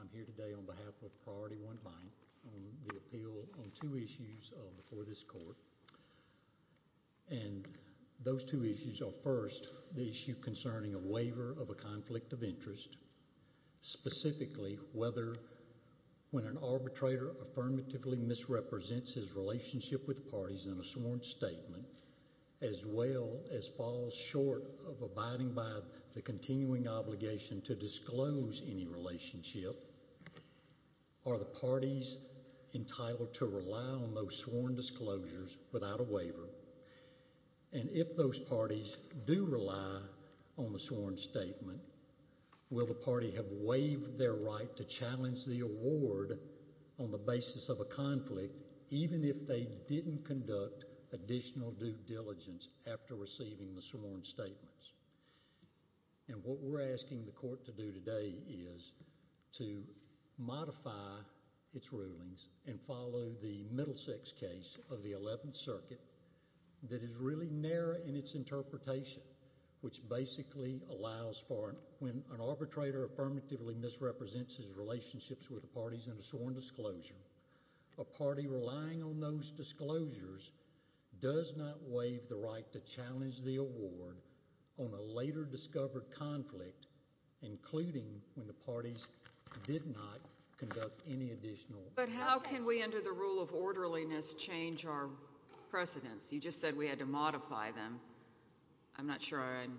I'm here today on behalf of PriorityOne Bank on the appeal on two issues before this court. And those two issues are first the issue concerning a waiver of a conflict of interest, specifically whether when an arbitrator affirmatively misrepresents his relationship with parties in a sworn statement as well as falls short of abiding by the continuing obligation to disclose any relationship, are the parties entitled to rely on those sworn disclosures without a waiver? And if those parties do rely on the sworn statement, will the party have waived their right to challenge the award on the basis of a conflict even if they didn't conduct additional due diligence after receiving the sworn statements? And what we're asking the court to do today is to modify its rulings and follow the Middlesex case of the 11th Circuit that is really narrow in its interpretation, which basically allows for when an arbitrator affirmatively misrepresents his relationships with the parties in a sworn disclosure, a party relying on those disclosures does not waive the right to challenge the award on a later discovered conflict, including when the parties did not conduct any additional. But how can we under the rule of orderliness change our precedents? You just said we had to modify them. I'm not sure I'm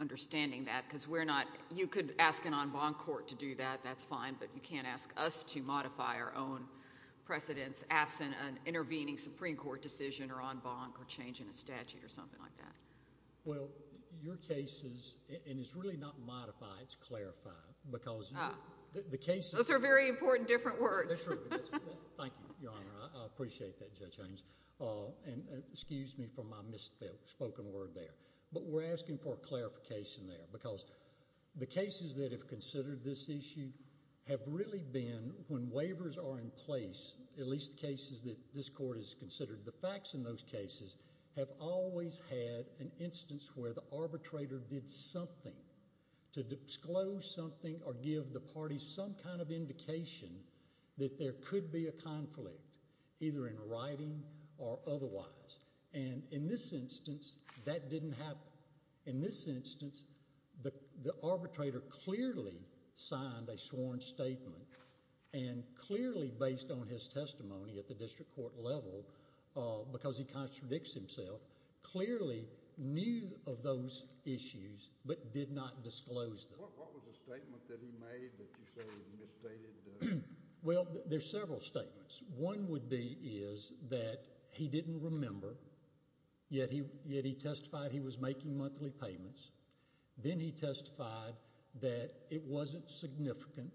understanding that because we're not, you could ask an en banc court to do that, that's fine, but you can't ask us to modify our own precedents absent an intervening Supreme Court decision or en banc or changing a statute or something like that. Well, your cases, and it's really not modify, it's clarify, because the cases... Those are very important different words. They're true. Thank you, Your Honor. I appreciate that, Judge Haynes. And excuse me for my misspoken word there, but we're asking for a clarification there, because the cases that have considered this issue have really been when waivers are in place, at least the cases that this court has considered, the facts in those cases have always had an instance where the arbitrator did something to disclose something or give the parties some kind of indication that there could be a conflict, either in writing or otherwise. And in this instance, that didn't happen. In this instance, the arbitrator clearly signed a sworn statement and clearly based on his testimony at the district court level, because he contradicts himself, clearly knew of those issues but did not disclose them. What was the statement that he made that you say he misstated? Well, there's several statements. One would be is that he didn't remember, yet he testified he was making monthly payments. Then he testified that it wasn't significant.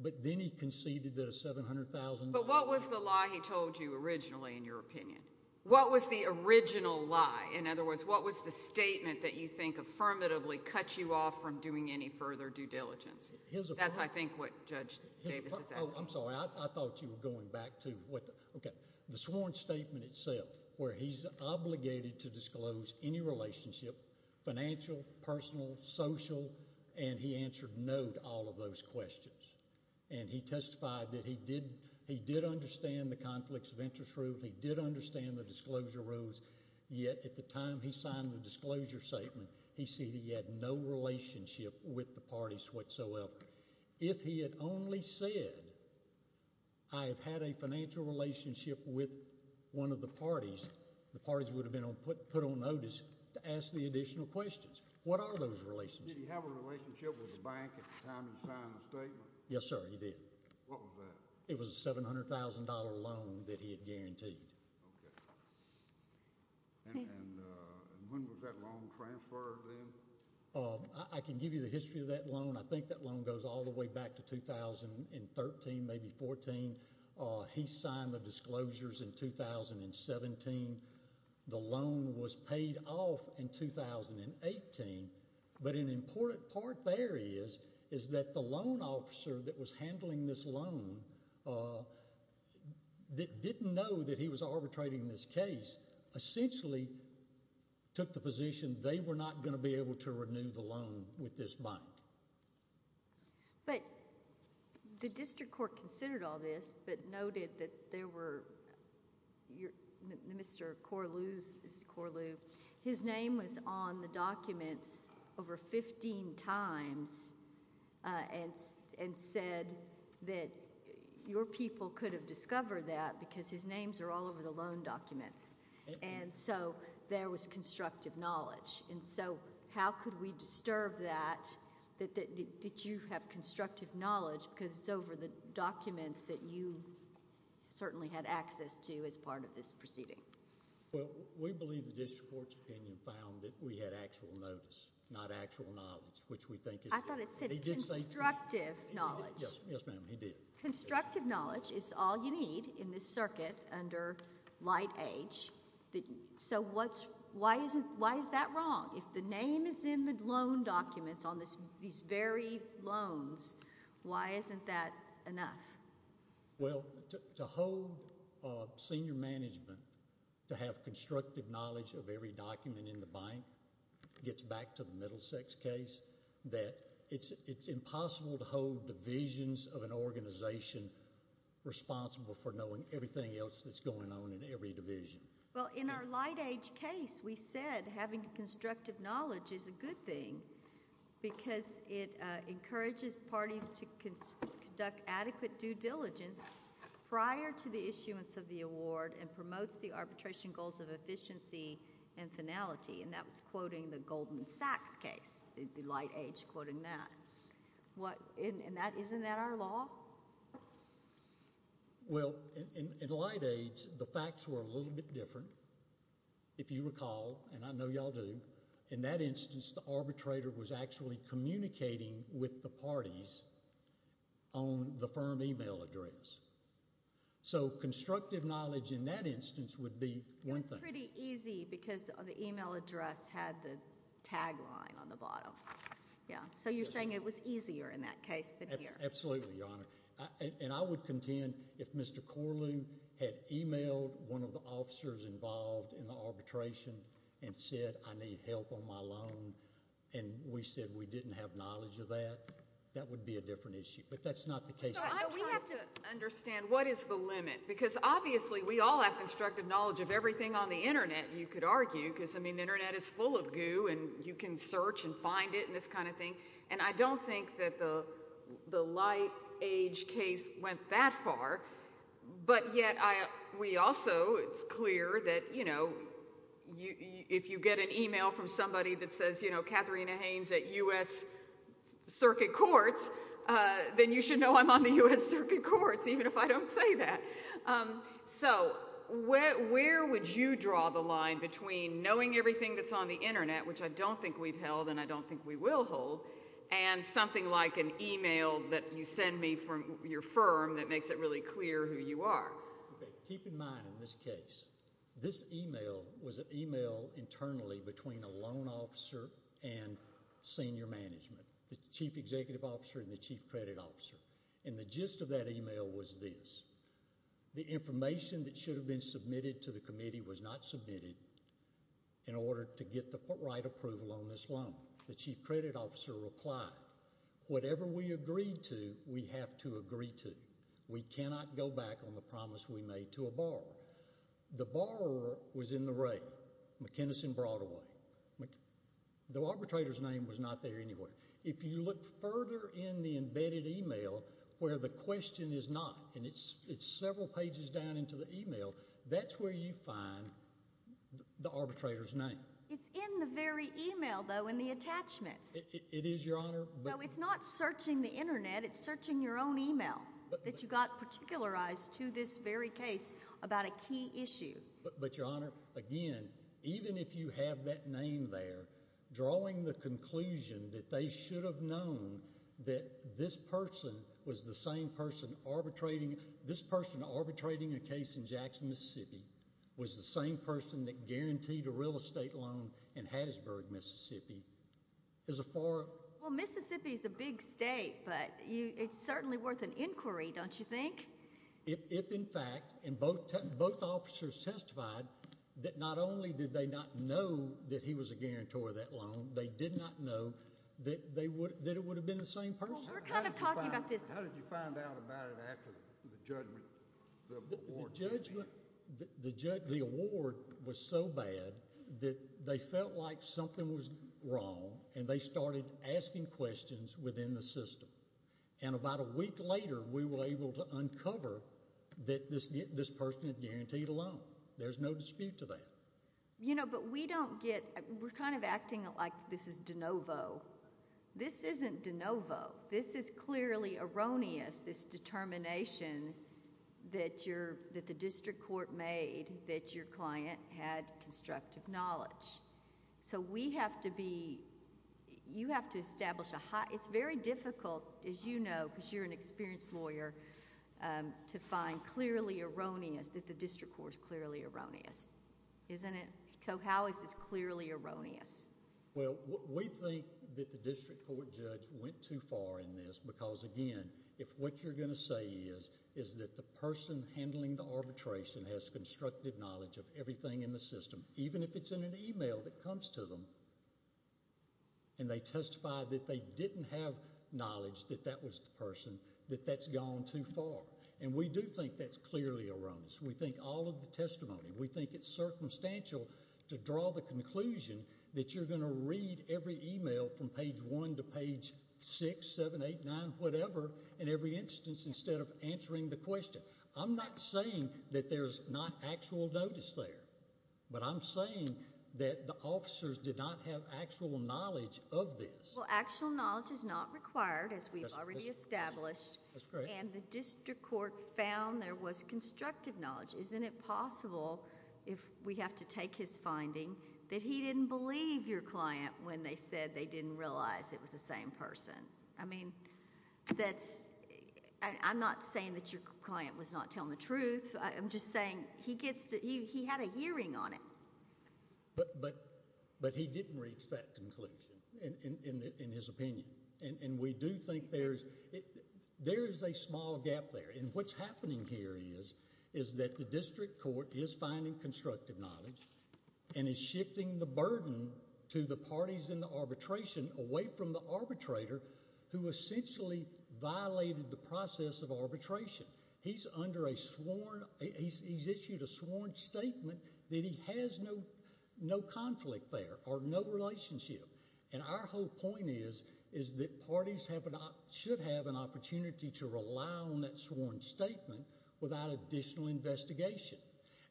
But then he conceded that a $700,000... But what was the lie he told you originally in your opinion? What was the original lie? In other words, what was the statement that you think affirmatively cuts you off from doing any further due diligence? That's, I think, what Judge Davis is asking. I'm sorry. I thought you were going back to what the... Financial, personal, social, and he answered no to all of those questions. And he testified that he did understand the conflicts of interest rule. He did understand the disclosure rules. Yet at the time he signed the disclosure statement, he said he had no relationship with the parties whatsoever. If he had only said, I have had a financial relationship with one of the parties, the parties would have been put on notice to ask the additional questions. What are those relationships? Did he have a relationship with the bank at the time he signed the statement? Yes, sir, he did. What was that? It was a $700,000 loan that he had guaranteed. Okay. And when was that loan transferred then? I can give you the history of that loan. I think that loan goes all the way back to 2013, maybe 14. He signed the disclosures in 2017. The loan was paid off in 2018. But an important part there is that the loan officer that was handling this loan didn't know that he was arbitrating this case. Essentially took the position they were not going to be able to renew the loan with this bank. But the district court considered all this but noted that there were... Mr. Corlew, his name was on the documents over 15 times and said that your people could have discovered that because his names are all over the loan documents. And so there was constructive knowledge. And so how could we disturb that, that you have constructive knowledge because it's over the documents that you certainly had access to as part of this proceeding? Well, we believe the district court's opinion found that we had actual notice, not actual knowledge, which we think is... I thought it said constructive knowledge. Yes, ma'am, he did. Constructive knowledge is all you need in this circuit under Light H. So why is that wrong? If the name is in the loan documents on these very loans, why isn't that enough? Well, to hold senior management to have constructive knowledge of every document in the bank gets back to the Middlesex case. It's impossible to hold divisions of an organization responsible for knowing everything else that's going on in every division. Well, in our Light H. case, we said having constructive knowledge is a good thing because it encourages parties to conduct adequate due diligence prior to the issuance of the award and promotes the arbitration goals of efficiency and finality, and that was quoting the Goldman Sachs case. It'd be Light H. quoting that. Isn't that our law? Well, in Light H., the facts were a little bit different. If you recall, and I know y'all do, in that instance, the arbitrator was actually communicating with the parties on the firm email address. So constructive knowledge in that instance would be one thing. It was pretty easy because the email address had the tagline on the bottom. So you're saying it was easier in that case than here. Absolutely, Your Honor. And I would contend if Mr. Corlew had emailed one of the officers involved in the arbitration and said, I need help on my loan, and we said we didn't have knowledge of that, that would be a different issue. But that's not the case. I'm trying to understand what is the limit because obviously we all have constructive knowledge of everything on the Internet, you could argue, because, I mean, the Internet is full of goo and you can search and find it and this kind of thing, and I don't think that the Light H. case went that far. But yet we also, it's clear that, you know, if you get an email from somebody that says, you know, even if I don't say that. So where would you draw the line between knowing everything that's on the Internet, which I don't think we've held and I don't think we will hold, and something like an email that you send me from your firm that makes it really clear who you are? Keep in mind in this case, this email was an email internally between a loan officer and senior management, the chief executive officer and the chief credit officer. And the gist of that email was this. The information that should have been submitted to the committee was not submitted in order to get the right approval on this loan. The chief credit officer replied, whatever we agreed to, we have to agree to. We cannot go back on the promise we made to a borrower. The borrower was in the ray. The arbitrator's name was not there anywhere. If you look further in the embedded email where the question is not, and it's several pages down into the email, that's where you find the arbitrator's name. It's in the very email, though, in the attachments. It is, Your Honor. So it's not searching the Internet. It's searching your own email that you got particularized to this very case about a key issue. But, Your Honor, again, even if you have that name there, drawing the conclusion that they should have known that this person was the same person arbitrating a case in Jackson, Mississippi, was the same person that guaranteed a real estate loan in Hattiesburg, Mississippi. Well, Mississippi is a big state, but it's certainly worth an inquiry, don't you think? If, in fact, both officers testified that not only did they not know that he was a guarantor of that loan, they did not know that it would have been the same person. Well, we're kind of talking about this. How did you find out about it after the judgment? The award was so bad that they felt like something was wrong, and they started asking questions within the system. And about a week later, we were able to uncover that this person had guaranteed a loan. There's no dispute to that. You know, but we don't get... we're kind of acting like this is de novo. This isn't de novo. This is clearly erroneous, this determination that the district court made that your client had constructive knowledge. So we have to be... you have to establish a... it's very difficult, as you know, because you're an experienced lawyer, to find clearly erroneous, that the district court is clearly erroneous. Isn't it? So how is this clearly erroneous? Well, we think that the district court judge went too far in this because, again, if what you're going to say is that the person handling the arbitration has constructive knowledge of everything in the system, even if it's in an email that comes to them, and they testify that they didn't have knowledge that that was the person, that that's gone too far. And we do think that's clearly erroneous. We think all of the testimony... we think it's circumstantial to draw the conclusion that you're going to read every email from page 1 to page 6, 7, 8, 9, whatever, in every instance, instead of answering the question. I'm not saying that there's not actual notice there, but I'm saying that the officers did not have actual knowledge of this. Well, actual knowledge is not required, as we've already established. That's correct. And the district court found there was constructive knowledge. Isn't it possible, if we have to take his finding, that he didn't believe your client when they said they didn't realize it was the same person? I mean, that's... I'm not saying that your client was not telling the truth. I'm just saying he gets to... he had a hearing on it. But he didn't reach that conclusion, in his opinion. And we do think there's... there is a small gap there. And what's happening here is that the district court is finding constructive knowledge and is shifting the burden to the parties in the arbitration away from the arbitrator who essentially violated the process of arbitration. He's under a sworn... he's issued a sworn statement that he has no conflict there or no relationship. And our whole point is that parties should have an opportunity to rely on that sworn statement without additional investigation.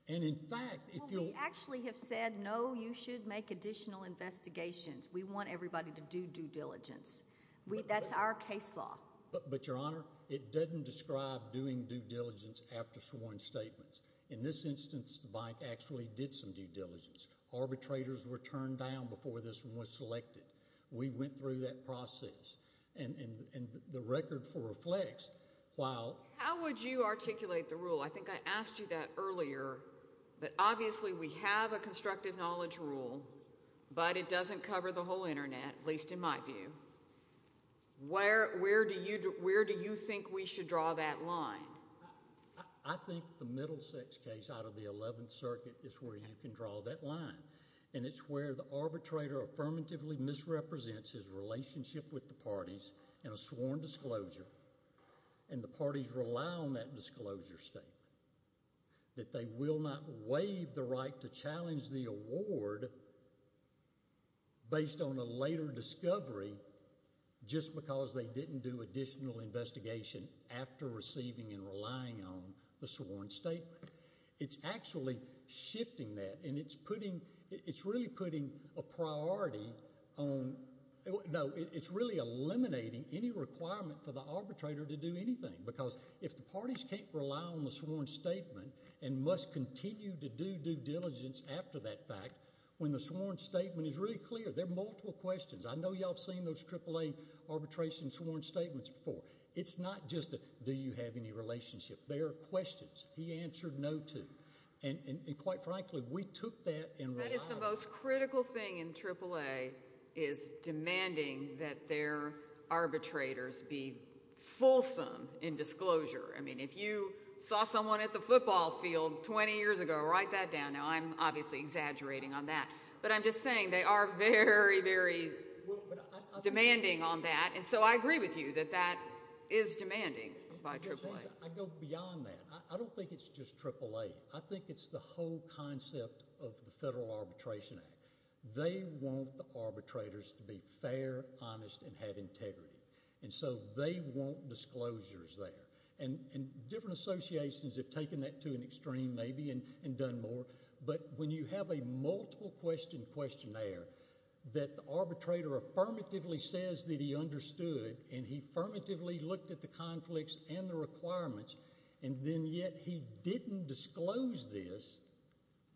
And, in fact, if you... Well, we actually have said, no, you should make additional investigations. We want everybody to do due diligence. That's our case law. But, Your Honor, it doesn't describe doing due diligence after sworn statements. In this instance, the bank actually did some due diligence. Arbitrators were turned down before this one was selected. We went through that process. And the record reflects, while... How would you articulate the rule? I think I asked you that earlier. But, obviously, we have a constructive knowledge rule, but it doesn't cover the whole Internet, at least in my view. Where do you think we should draw that line? I think the Middlesex case out of the Eleventh Circuit is where you can draw that line. And it's where the arbitrator affirmatively misrepresents his relationship with the parties in a sworn disclosure. And the parties rely on that disclosure statement. That they will not waive the right to challenge the award based on a later discovery just because they didn't do additional investigation after receiving and relying on the sworn statement. It's actually shifting that. And it's putting... It's really putting a priority on... Because if the parties can't rely on the sworn statement and must continue to do due diligence after that fact, when the sworn statement is really clear, there are multiple questions. I know you all have seen those AAA arbitration sworn statements before. It's not just a, do you have any relationship? They are questions. He answered no to. And, quite frankly, we took that and relied on it. I mean, if you saw someone at the football field 20 years ago, write that down. Now, I'm obviously exaggerating on that. But I'm just saying they are very, very demanding on that. And so I agree with you that that is demanding by AAA. I go beyond that. I don't think it's just AAA. I think it's the whole concept of the Federal Arbitration Act. They want the arbitrators to be fair, honest, and have integrity. And so they want disclosures there. And different associations have taken that to an extreme maybe and done more. But when you have a multiple-question questionnaire that the arbitrator affirmatively says that he understood and he affirmatively looked at the conflicts and the requirements, and then yet he didn't disclose this,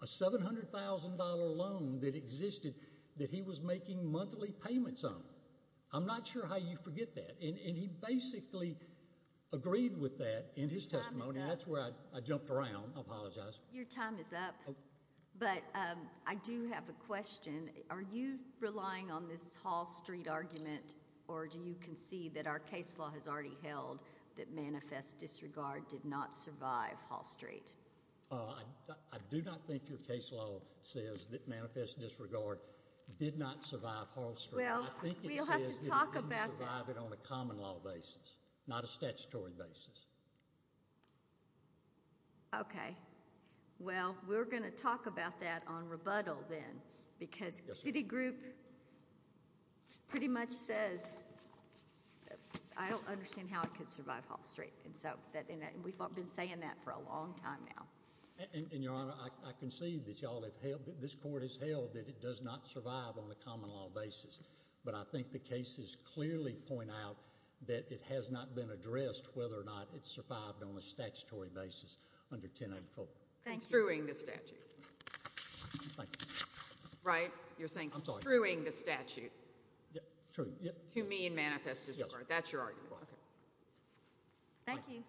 a $700,000 loan that existed that he was making monthly payments on. I'm not sure how you forget that. And he basically agreed with that in his testimony. And that's where I jumped around. I apologize. Your time is up. But I do have a question. Are you relying on this Hall Street argument, or do you concede that our case law has already held that manifest disregard did not survive Hall Street? I do not think your case law says that manifest disregard did not survive Hall Street. Well, we'll have to talk about that. I think it says that it didn't survive it on a common law basis, not a statutory basis. Okay. Well, we're going to talk about that on rebuttal then because Citigroup pretty much says, I don't understand how it could survive Hall Street. And we've been saying that for a long time now. And, Your Honor, I concede that this court has held that it does not survive on a common law basis. But I think the cases clearly point out that it has not been addressed whether or not it survived on a statutory basis under 1084. Screwing the statute. Thank you. Right? You're saying screwing the statute to mean manifest disregard. That's your argument. Okay. Thank you.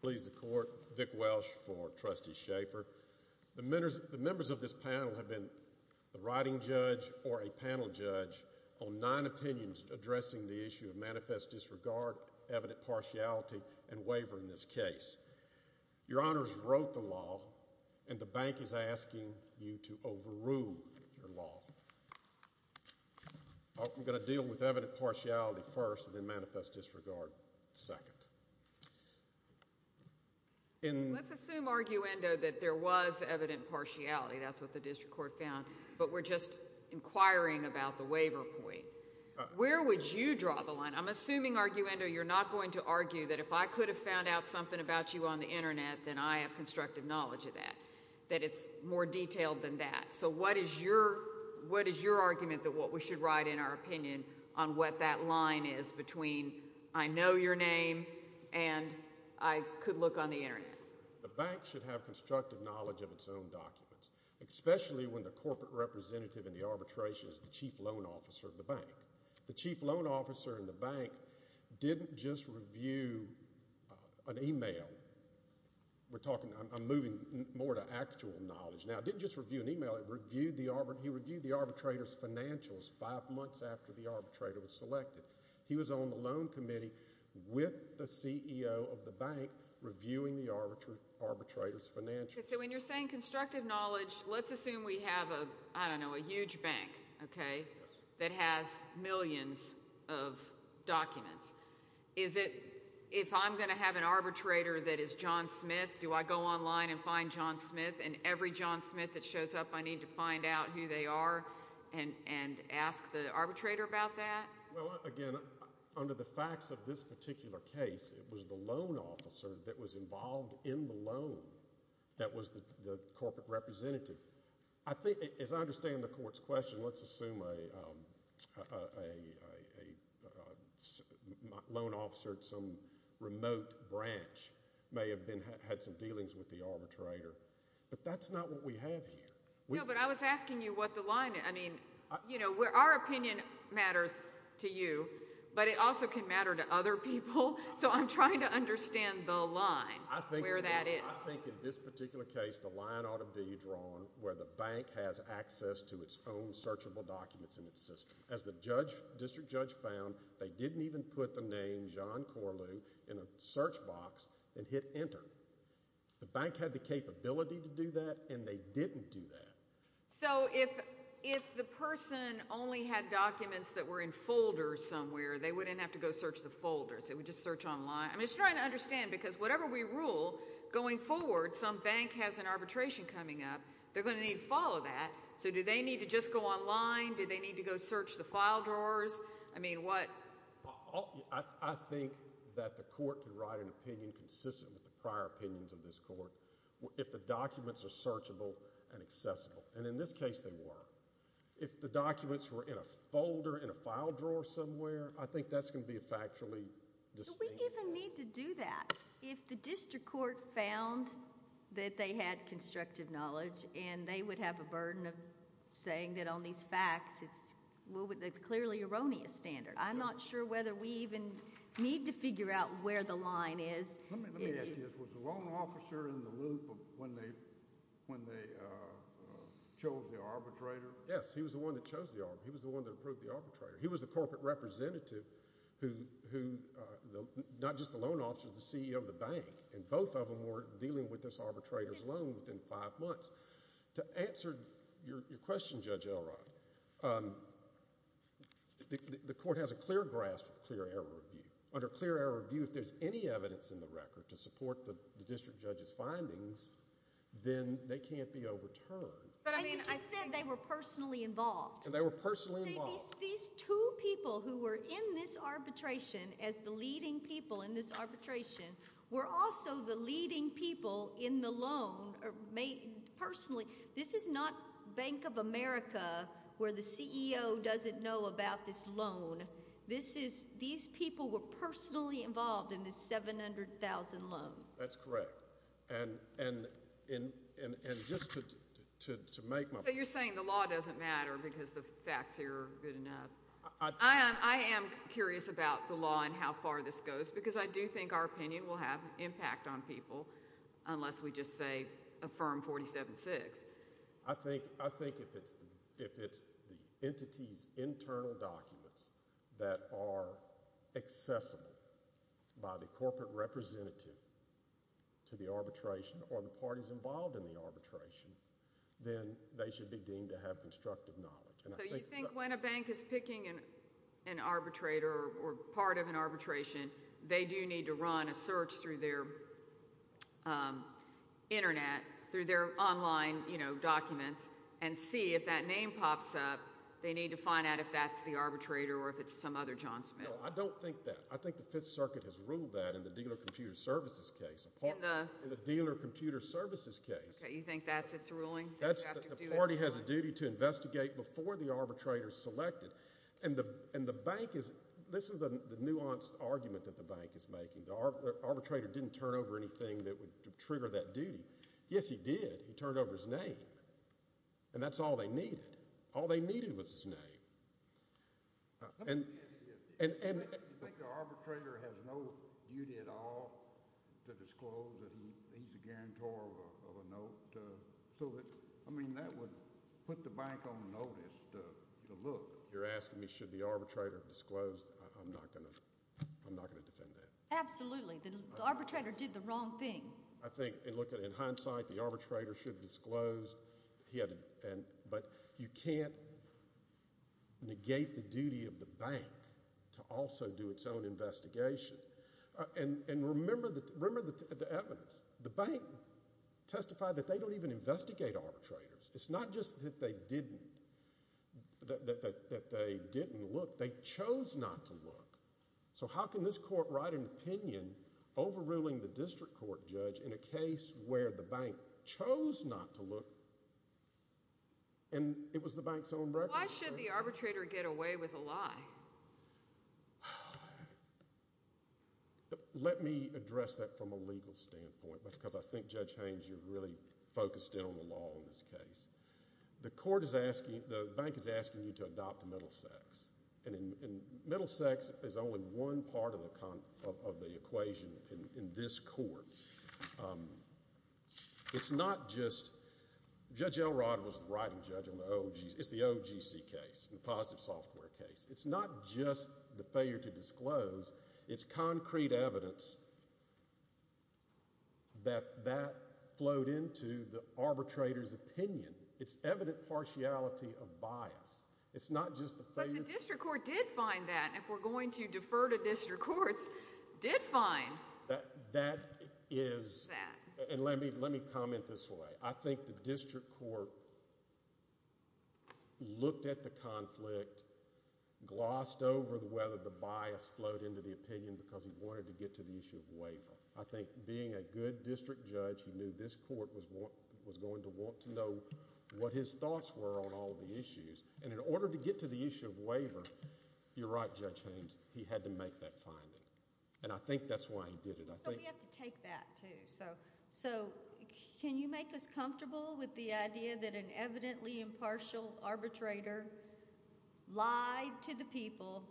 Please. Please, the court. Vic Welsh for Trustee Shaper. The members of this panel have been the writing judge or a panel judge on 9 opinions addressing the issue of manifest disregard, evident partiality, and waiver in this case. Your honors wrote the law and the bank is asking you to overrule your law. I'm going to deal with evident partiality first and then manifest disregard second. Let's assume, arguendo, that there was evident partiality. That's what the district court found. But we're just inquiring about the waiver point. Where would you draw the line? I'm assuming, arguendo, you're not going to argue that if I could have found out something about you on the Internet, then I have constructive knowledge of that, that it's more detailed than that. So what is your argument that what we should write in our opinion on what that line is between I know your name and I could look on the Internet? The bank should have constructive knowledge of its own documents, especially when the corporate representative in the arbitration is the chief loan officer of the bank. The chief loan officer in the bank didn't just review an e-mail. I'm moving more to actual knowledge now. He didn't just review an e-mail. He reviewed the arbitrator's financials five months after the arbitrator was selected. He was on the loan committee with the CEO of the bank reviewing the arbitrator's financials. So when you're saying constructive knowledge, let's assume we have a, I don't know, a huge bank, okay, that has millions of documents. Is it if I'm going to have an arbitrator that is John Smith, do I go online and find John Smith? And every John Smith that shows up, I need to find out who they are and ask the arbitrator about that? Well, again, under the facts of this particular case, it was the loan officer that was involved in the loan that was the corporate representative. I think, as I understand the court's question, let's assume a loan officer at some remote branch may have had some dealings with the arbitrator. But that's not what we have here. No, but I was asking you what the line is. I mean, you know, our opinion matters to you, but it also can matter to other people. So I'm trying to understand the line, where that is. I think in this particular case, the line ought to be drawn where the bank has access to its own searchable documents in its system. As the district judge found, they didn't even put the name John Corlew in a search box and hit enter. The bank had the capability to do that, and they didn't do that. So if the person only had documents that were in folders somewhere, they wouldn't have to go search the folders. They would just search online. I'm just trying to understand, because whatever we rule going forward, some bank has an arbitration coming up. They're going to need to follow that. So do they need to just go online? Do they need to go search the file drawers? I mean, what? I think that the court can write an opinion consistent with the prior opinions of this court if the documents are searchable and accessible, and in this case they were. If the documents were in a folder in a file drawer somewhere, I think that's going to be a factually distinct case. Do we even need to do that? If the district court found that they had constructive knowledge and they would have a burden of saying that on these facts it's clearly erroneous standard, I'm not sure whether we even need to figure out where the line is. Let me ask you this. Was the loan officer in the loop when they chose the arbitrator? Yes, he was the one that chose the arbitrator. He was the one that approved the arbitrator. He was the corporate representative who not just the loan officer, the CEO of the bank, and both of them were dealing with this arbitrator's loan within five months. To answer your question, Judge Elrod, the court has a clear grasp of clear error review. Under clear error review, if there's any evidence in the record to support the district judge's findings, then they can't be overturned. But you just said they were personally involved. They were personally involved. These two people who were in this arbitration as the leading people in this arbitration were also the leading people in the loan personally. This is not Bank of America where the CEO doesn't know about this loan. These people were personally involved in this $700,000 loan. That's correct. And just to make my point— So you're saying the law doesn't matter because the facts here are good enough. I am curious about the law and how far this goes because I do think our opinion will have an impact on people unless we just say affirm 47-6. I think if it's the entity's internal documents that are accessible by the corporate representative to the arbitration or the parties involved in the arbitration, then they should be deemed to have constructive knowledge. So you think when a bank is picking an arbitrator or part of an arbitration, they do need to run a search through their Internet, through their online documents, and see if that name pops up. They need to find out if that's the arbitrator or if it's some other John Smith. No, I don't think that. I think the Fifth Circuit has ruled that in the Dealer of Computer Services case. In the— In the Dealer of Computer Services case. You think that's its ruling? The party has a duty to investigate before the arbitrator is selected. And the bank is—this is the nuanced argument that the bank is making. The arbitrator didn't turn over anything that would trigger that duty. Yes, he did. He turned over his name, and that's all they needed. All they needed was his name. You think the arbitrator has no duty at all to disclose that he's a guarantor of a note? I mean, that would put the bank on notice to look. You're asking me should the arbitrator have disclosed. I'm not going to defend that. Absolutely. The arbitrator did the wrong thing. I think, in hindsight, the arbitrator should have disclosed. But you can't negate the duty of the bank to also do its own investigation. And remember the evidence. The bank testified that they don't even investigate arbitrators. It's not just that they didn't look. They chose not to look. So how can this court write an opinion overruling the district court judge in a case where the bank chose not to look? And it was the bank's own record. Why should the arbitrator get away with a lie? Let me address that from a legal standpoint, because I think, Judge Haynes, you're really focused in on the law in this case. The court is asking—the bank is asking you to adopt a middle sex. And middle sex is only one part of the equation in this court. It's not just—Judge Elrod was the writing judge on the OG—it's the OGC case, the positive software case. It's not just the failure to disclose. It's concrete evidence that that flowed into the arbitrator's opinion. It's evident partiality of bias. It's not just the failure— But the district court did find that. And if we're going to defer to district courts, did find that. And let me comment this way. I think the district court looked at the conflict, glossed over whether the bias flowed into the opinion because he wanted to get to the issue of waiver. I think being a good district judge, he knew this court was going to want to know what his thoughts were on all of the issues. And in order to get to the issue of waiver, you're right, Judge Haynes, he had to make that finding. And I think that's why he did it. So we have to take that, too. So can you make us comfortable with the idea that an evidently impartial arbitrator lied to the people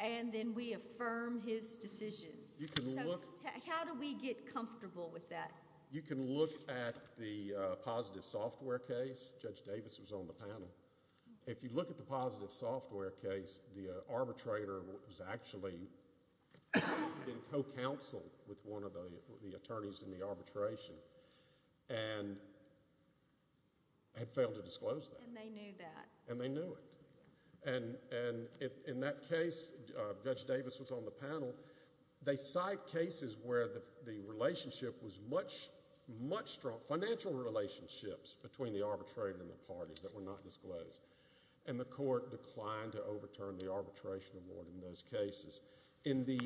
and then we affirm his decision? You can look— How do we get comfortable with that? You can look at the positive software case. Judge Davis was on the panel. If you look at the positive software case, the arbitrator was actually in co-counsel with one of the attorneys in the arbitration and had failed to disclose that. And they knew that. And they knew it. And in that case, Judge Davis was on the panel. They cite cases where the relationship was much, much—financial relationships between the arbitrator and the parties that were not disclosed. And the court declined to overturn the arbitration award in those cases. In the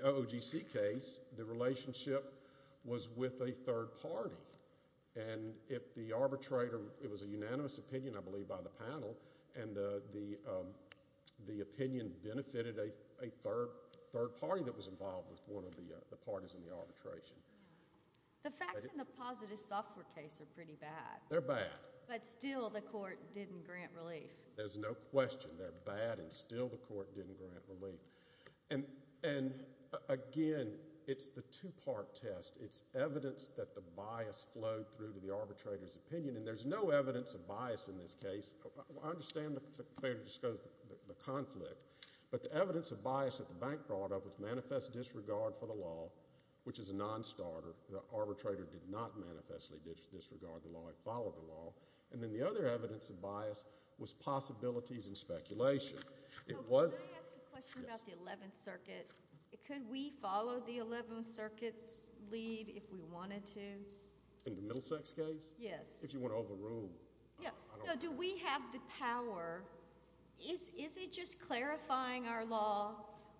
OOGC case, the relationship was with a third party. And if the arbitrator—it was a unanimous opinion, I believe, by the panel, and the opinion benefited a third party that was involved with one of the parties in the arbitration. The facts in the positive software case are pretty bad. They're bad. But still the court didn't grant relief. There's no question. They're bad, and still the court didn't grant relief. And, again, it's the two-part test. It's evidence that the bias flowed through to the arbitrator's opinion. And there's no evidence of bias in this case. I understand the failure to disclose the conflict. But the evidence of bias that the bank brought up was manifest disregard for the law, which is a nonstarter. The arbitrator did not manifestly disregard the law. It followed the law. And then the other evidence of bias was possibilities and speculation. Can I ask a question about the Eleventh Circuit? Could we follow the Eleventh Circuit's lead if we wanted to? In the Middlesex case? Yes. If you want to overrule— No, do we have the power? Is it just clarifying our law,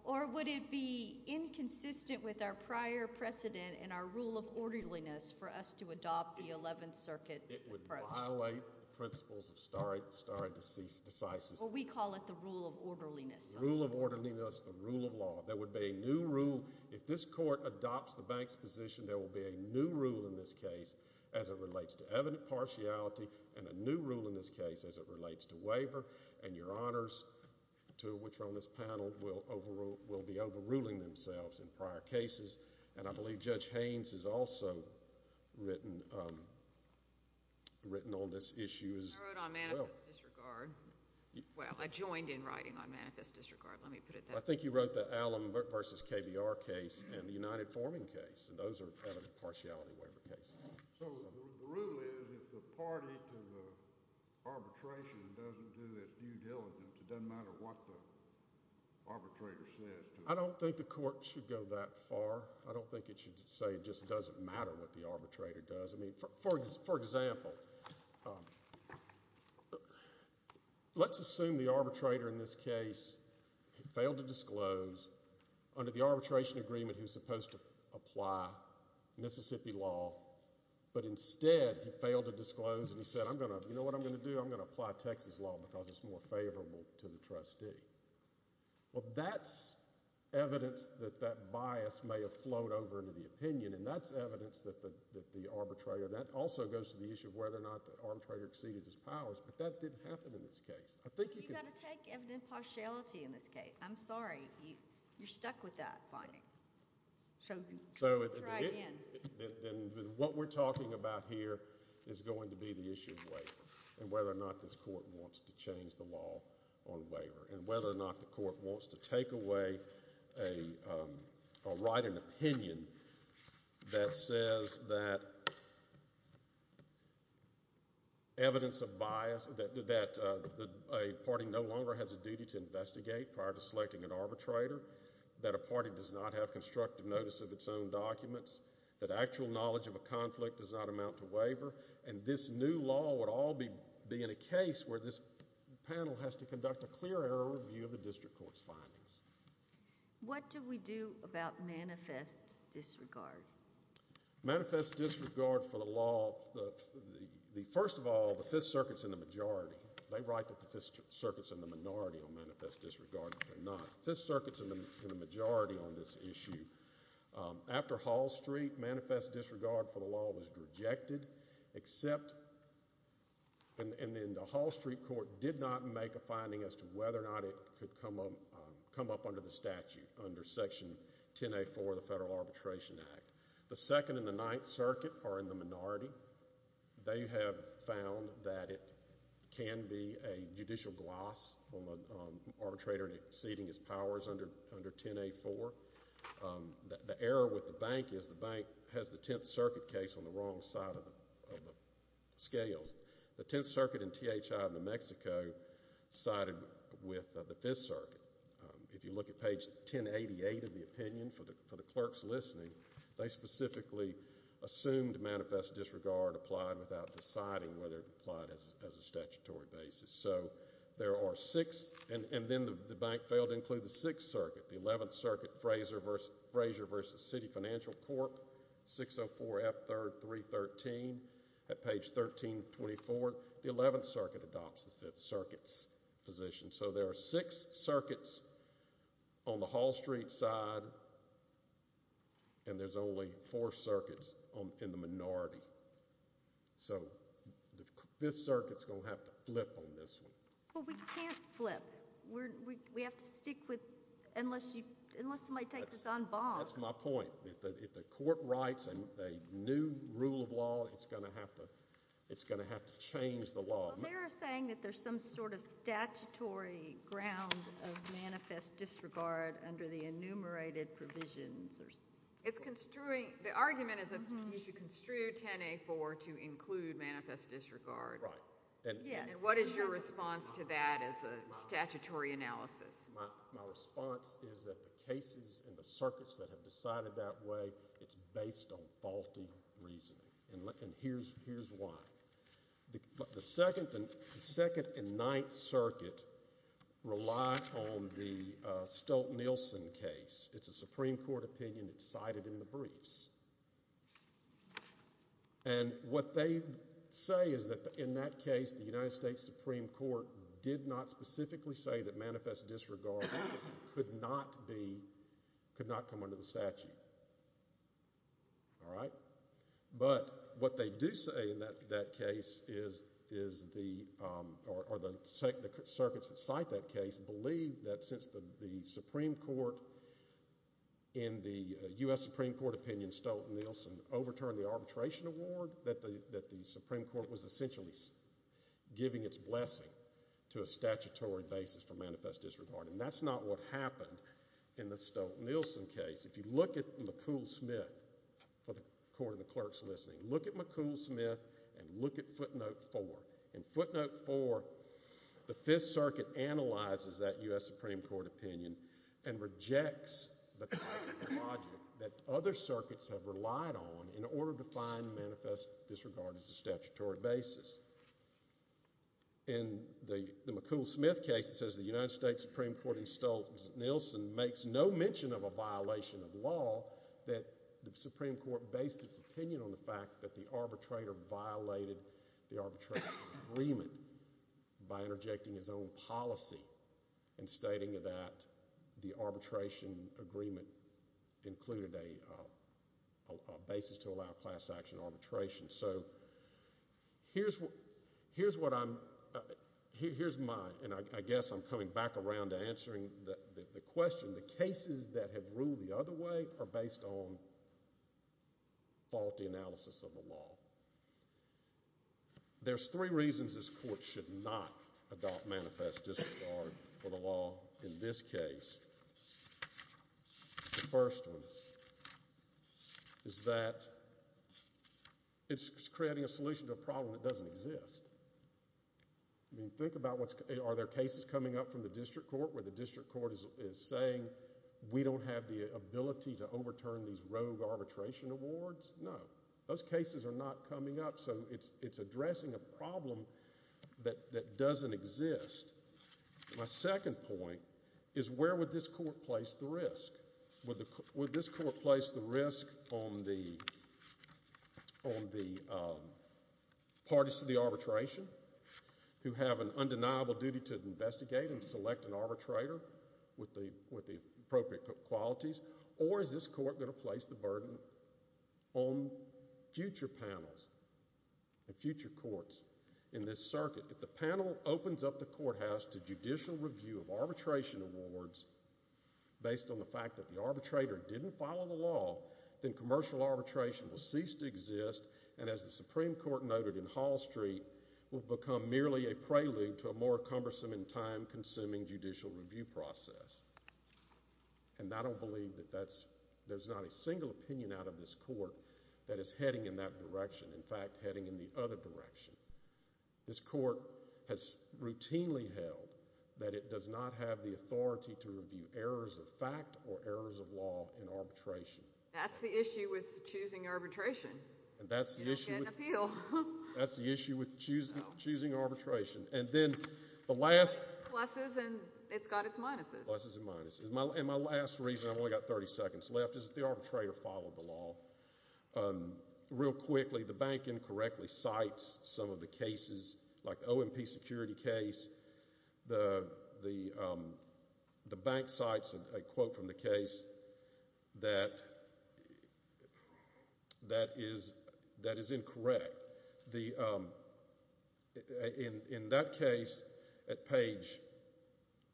or would it be inconsistent with our prior precedent and our rule of orderliness for us to adopt the Eleventh Circuit approach? It would violate the principles of stare decisis. Well, we call it the rule of orderliness. Rule of orderliness, the rule of law. There would be a new rule. If this court adopts the bank's position, there will be a new rule in this case as it relates to evident partiality, and a new rule in this case as it relates to waiver. And your honors, two of which are on this panel, will be overruling themselves in prior cases. And I believe Judge Haynes has also written on this issue as well. I wrote on manifest disregard. Well, I joined in writing on manifest disregard. Let me put it that way. I think you wrote the Allum v. KBR case and the United Forming case, and those are evident partiality waiver cases. So the rule is if the party to the arbitration doesn't do its due diligence, it doesn't matter what the arbitrator says to it. I don't think the court should go that far. I don't think it should say it just doesn't matter what the arbitrator does. I mean, for example, let's assume the arbitrator in this case failed to disclose. Under the arbitration agreement, he was supposed to apply Mississippi law, but instead he failed to disclose and he said, you know what I'm going to do? I'm going to apply Texas law because it's more favorable to the trustee. Well, that's evidence that that bias may have flowed over into the opinion, and that's evidence that the arbitrator – that also goes to the issue of whether or not the arbitrator exceeded his powers, but that didn't happen in this case. I think you can – But you've got to take evident partiality in this case. I'm sorry. You're stuck with that finding. So it's right in. Then what we're talking about here is going to be the issue of waiver and whether or not this court wants to change the law on waiver and whether or not the court wants to take away or write an opinion that says that evidence of bias – that a party no longer has a duty to investigate prior to selecting an arbitrator, that a party does not have constructive notice of its own documents, that actual knowledge of a conflict does not amount to waiver, and this new law would all be in a case where this panel has to conduct a clear error review of the district court's findings. What do we do about manifest disregard? Manifest disregard for the law – first of all, the Fifth Circuit's in the majority. They write that the Fifth Circuit's in the minority on manifest disregard, but they're not. The Fifth Circuit's in the majority on this issue. After Hall Street, manifest disregard for the law was rejected, and then the Hall Street court did not make a finding as to whether or not it could come up under the statute under Section 10A4 of the Federal Arbitration Act. The Second and the Ninth Circuit are in the minority. They have found that it can be a judicial gloss on the arbitrator exceeding his powers under 10A4. The error with the bank is the bank has the Tenth Circuit case on the wrong side of the scales. The Tenth Circuit and THI of New Mexico sided with the Fifth Circuit. If you look at page 1088 of the opinion, for the clerks listening, they specifically assumed manifest disregard applied without deciding whether it applied as a statutory basis. So there are six, and then the bank failed to include the Sixth Circuit. The Eleventh Circuit, Frazier v. City Financial Corp., 604F313. At page 1324, the Eleventh Circuit adopts the Fifth Circuit's position. So there are six circuits on the Hall Street side, and there's only four circuits in the minority. So the Fifth Circuit's going to have to flip on this one. Well, we can't flip. We have to stick with unless somebody takes us on bond. That's my point. If the court writes a new rule of law, it's going to have to change the law. They're saying that there's some sort of statutory ground of manifest disregard under the enumerated provisions. The argument is that you should construe 10A4 to include manifest disregard. Right. And what is your response to that as a statutory analysis? My response is that the cases and the circuits that have decided that way, it's based on faulty reasoning, and here's why. The Second and Ninth Circuit rely on the Stolt-Nielsen case. It's a Supreme Court opinion. It's cited in the briefs. And what they say is that in that case, the United States Supreme Court did not specifically say that manifest disregard could not come under the statute. All right. But what they do say in that case is the circuits that cite that case believe that since the Supreme Court in the U.S. Supreme Court opinion, Stolt-Nielsen, overturned the arbitration award, that the Supreme Court was essentially giving its blessing to a statutory basis for manifest disregard. And that's not what happened in the Stolt-Nielsen case. If you look at McCool-Smith, for the court and the clerks listening, look at McCool-Smith and look at footnote four. In footnote four, the Fifth Circuit analyzes that U.S. Supreme Court opinion and rejects the logic that other circuits have relied on in order to find manifest disregard as a statutory basis. In the McCool-Smith case, it says the United States Supreme Court in Stolt-Nielsen makes no mention of a violation of law, that the Supreme Court based its opinion on the fact that the arbitrator violated the arbitration agreement by interjecting his own policy and stating that the arbitration agreement included a basis to allow class action arbitration. So here's what I'm, here's my, and I guess I'm coming back around to answering the question, the cases that have ruled the other way are based on faulty analysis of the law. There's three reasons this court should not adopt manifest disregard for the law in this case. The first one is that it's creating a solution to a problem that doesn't exist. I mean, think about what's, are there cases coming up from the district court where the district court is saying we don't have the ability to overturn these rogue arbitration awards? No. Those cases are not coming up, so it's addressing a problem that doesn't exist. My second point is where would this court place the risk? Would this court place the risk on the parties to the arbitration who have an undeniable duty to investigate and select an arbitrator with the appropriate qualities, or is this court going to place the burden on future panels and future courts in this circuit? If the panel opens up the courthouse to judicial review of arbitration awards based on the fact that the arbitrator didn't follow the law, then commercial arbitration will cease to exist and, as the Supreme Court noted in Hall Street, will become merely a prelude to a more cumbersome and time-consuming judicial review process. And I don't believe that that's, there's not a single opinion out of this court that is heading in that direction, in fact, heading in the other direction. This court has routinely held that it does not have the authority to review errors of fact or errors of law in arbitration. That's the issue with choosing arbitration. You don't get an appeal. That's the issue with choosing arbitration. And then the last— Pluses and it's got its minuses. Pluses and minuses. And my last reason, I've only got 30 seconds left, is that the arbitrator followed the law. Real quickly, the bank incorrectly cites some of the cases like the OMP security case. The bank cites a quote from the case that is incorrect. In that case, at page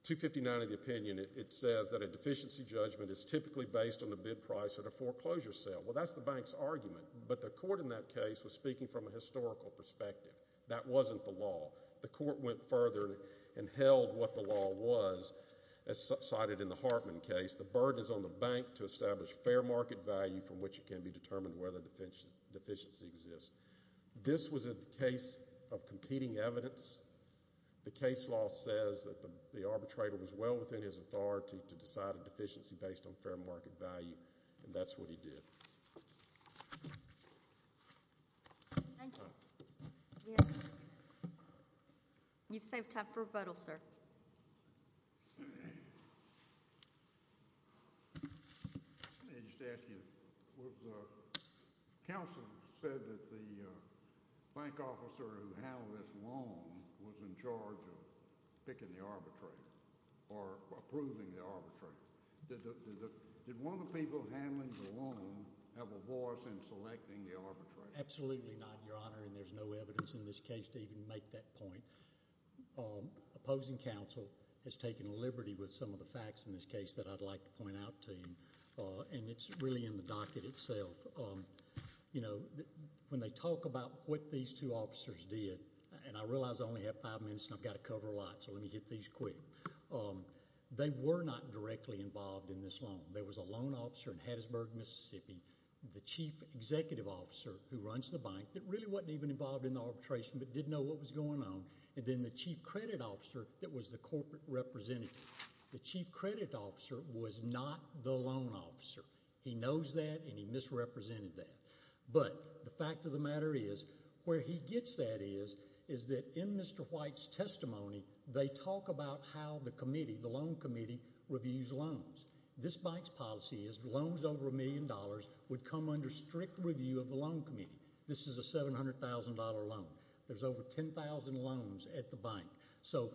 259 of the opinion, it says that a deficiency judgment is typically based on the bid price at a foreclosure sale. Well, that's the bank's argument, but the court in that case was speaking from a historical perspective. That wasn't the law. The court went further and held what the law was, as cited in the Hartman case. The burden is on the bank to establish fair market value from which it can be determined whether a deficiency exists. This was a case of competing evidence. The case law says that the arbitrator was well within his authority to decide a deficiency based on fair market value, and that's what he did. Thank you. You've saved time for a vote, sir. Let me just ask you. Counsel said that the bank officer who handled this loan was in charge of picking the arbitrator or approving the arbitrator. Did one of the people handling the loan have a voice in selecting the arbitrator? Absolutely not, Your Honor, and there's no evidence in this case to even make that point. Opposing counsel has taken liberty with some of the facts in this case that I'd like to point out to you, and it's really in the docket itself. You know, when they talk about what these two officers did, and I realize I only have five minutes and I've got to cover a lot, so let me hit these quick. They were not directly involved in this loan. There was a loan officer in Hattiesburg, Mississippi, the chief executive officer who runs the bank that really wasn't even involved in the arbitration but didn't know what was going on, and then the chief credit officer that was the corporate representative. The chief credit officer was not the loan officer. He knows that, and he misrepresented that, but the fact of the matter is where he gets that is is that in Mr. White's testimony, they talk about how the committee, the loan committee, reviews loans. This bank's policy is loans over a million dollars would come under strict review of the loan committee. This is a $700,000 loan. There's over 10,000 loans at the bank, so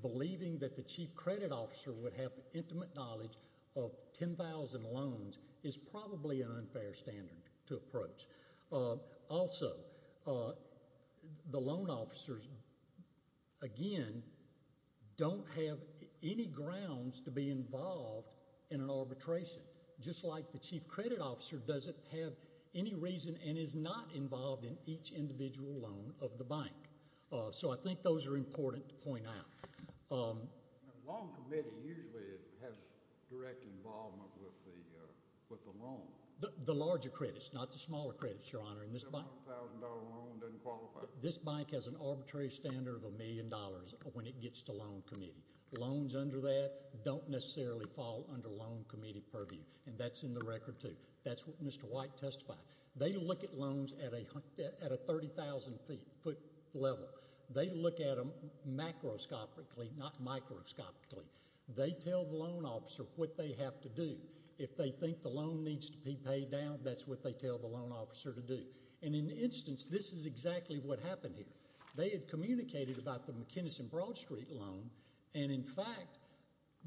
believing that the chief credit officer would have intimate knowledge of 10,000 loans is probably an unfair standard to approach. Also, the loan officers, again, don't have any grounds to be involved in an arbitration. Just like the chief credit officer doesn't have any reason and is not involved in each individual loan of the bank, so I think those are important to point out. The loan committee usually has direct involvement with the loan. The larger credits, not the smaller credits, Your Honor, and this bank has an arbitrary standard of a million dollars when it gets to loan committee. Loans under that don't necessarily fall under loan committee purview, and that's in the record, too. That's what Mr. White testified. They look at loans at a 30,000-foot level. They look at them macroscopically, not microscopically. They tell the loan officer what they have to do. If they think the loan needs to be paid down, that's what they tell the loan officer to do. In an instance, this is exactly what happened here. They had communicated about the McKinnison Broad Street loan, and in fact,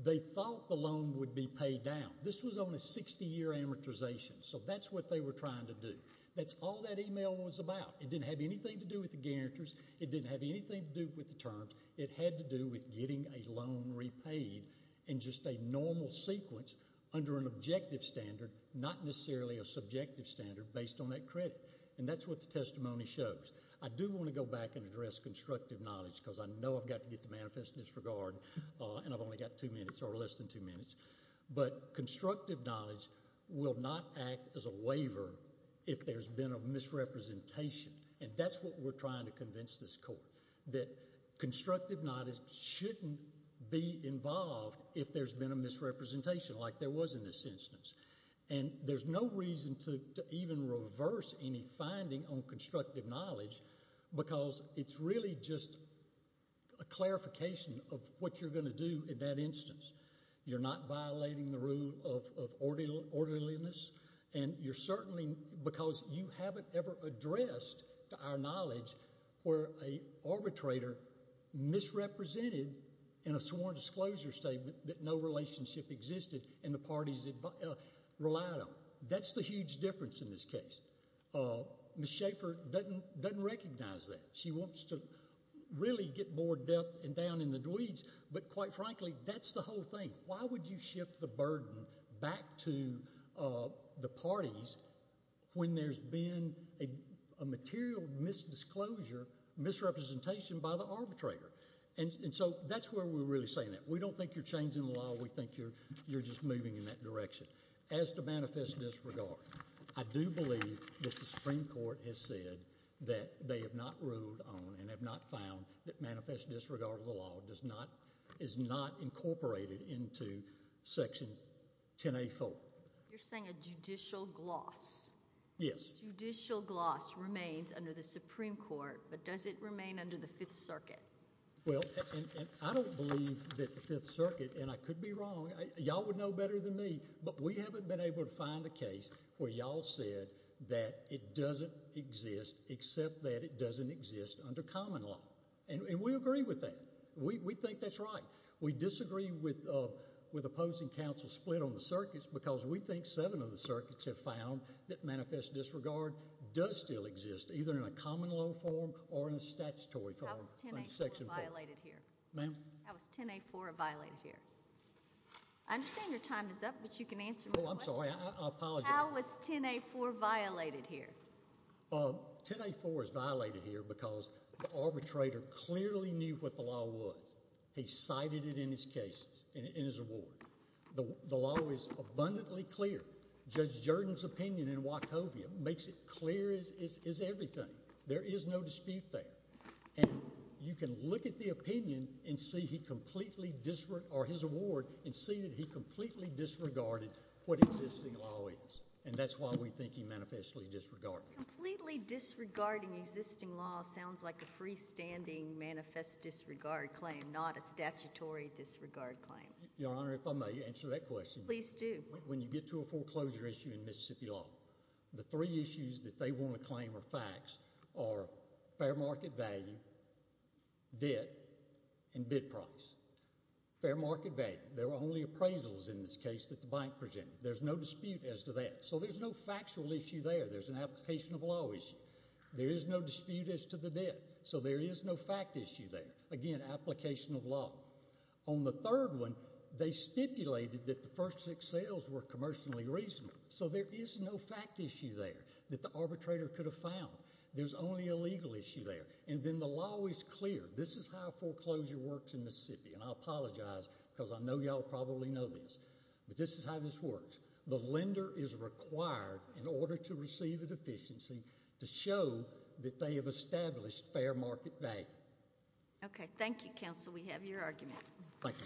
they thought the loan would be paid down. This was on a 60-year amortization, so that's what they were trying to do. That's all that email was about. It didn't have anything to do with the guarantors. It didn't have anything to do with the terms. It had to do with getting a loan repaid in just a normal sequence under an objective standard, not necessarily a subjective standard based on that credit, and that's what the testimony shows. I do want to go back and address constructive knowledge because I know I've got to get the manifest in this regard, and I've only got two minutes or less than two minutes, but constructive knowledge will not act as a waiver if there's been a misrepresentation, and that's what we're trying to convince this court, that constructive knowledge shouldn't be involved if there's been a misrepresentation like there was in this instance. There's no reason to even reverse any finding on constructive knowledge because it's really just a clarification of what you're going to do in that instance. You're not violating the rule of orderliness, and you're certainly because you haven't ever addressed to our knowledge where an arbitrator misrepresented in a sworn disclosure statement that no relationship existed and the parties relied on. That's the huge difference in this case. Ms. Schaffer doesn't recognize that. She wants to really get more depth and down in the weeds, but quite frankly, that's the whole thing. Why would you shift the burden back to the parties when there's been a material misdisclosure, misrepresentation by the arbitrator? And so that's where we're really saying that. We don't think you're changing the law. We think you're just moving in that direction. As to manifest disregard, I do believe that the Supreme Court has said that they have not ruled on and have not found that manifest disregard of the law is not incorporated into Section 10A4. You're saying a judicial gloss. Yes. Judicial gloss remains under the Supreme Court, but does it remain under the Fifth Circuit? Well, I don't believe that the Fifth Circuit, and I could be wrong. Y'all would know better than me, but we haven't been able to find a case where y'all said that it doesn't exist except that it doesn't exist under common law, and we agree with that. We think that's right. We disagree with opposing counsel split on the circuits because we think seven of the circuits have found that manifest disregard does still exist, either in a common law form or in a statutory form under Section 4. How is 10A4 violated here? Ma'am? How is 10A4 violated here? I understand your time is up, but you can answer my question. Oh, I'm sorry. I apologize. How is 10A4 violated here? 10A4 is violated here because the arbitrator clearly knew what the law was. He cited it in his case, in his award. The law is abundantly clear. Judge Jordan's opinion in Wachovia makes it clear as is everything. There is no dispute there, and you can look at the opinion or his award and see that he completely disregarded what existing law is, and that's why we think he manifestly disregarded it. Completely disregarding existing law sounds like a freestanding manifest disregard claim, not a statutory disregard claim. Your Honor, if I may answer that question. Please do. When you get to a foreclosure issue in Mississippi law, the three issues that they want to claim are facts are fair market value, debt, and bid price. Fair market value. There were only appraisals in this case that the bank presented. There's no dispute as to that, so there's no factual issue there. There's an application of law issue. There is no dispute as to the debt, so there is no fact issue there. Again, application of law. On the third one, they stipulated that the first six sales were commercially reasonable, so there is no fact issue there that the arbitrator could have found. There's only a legal issue there, and then the law is clear. This is how foreclosure works in Mississippi, and I apologize because I know you all probably know this, but this is how this works. The lender is required, in order to receive a deficiency, to show that they have established fair market value. Okay. Thank you, counsel. We have your argument. Thank you.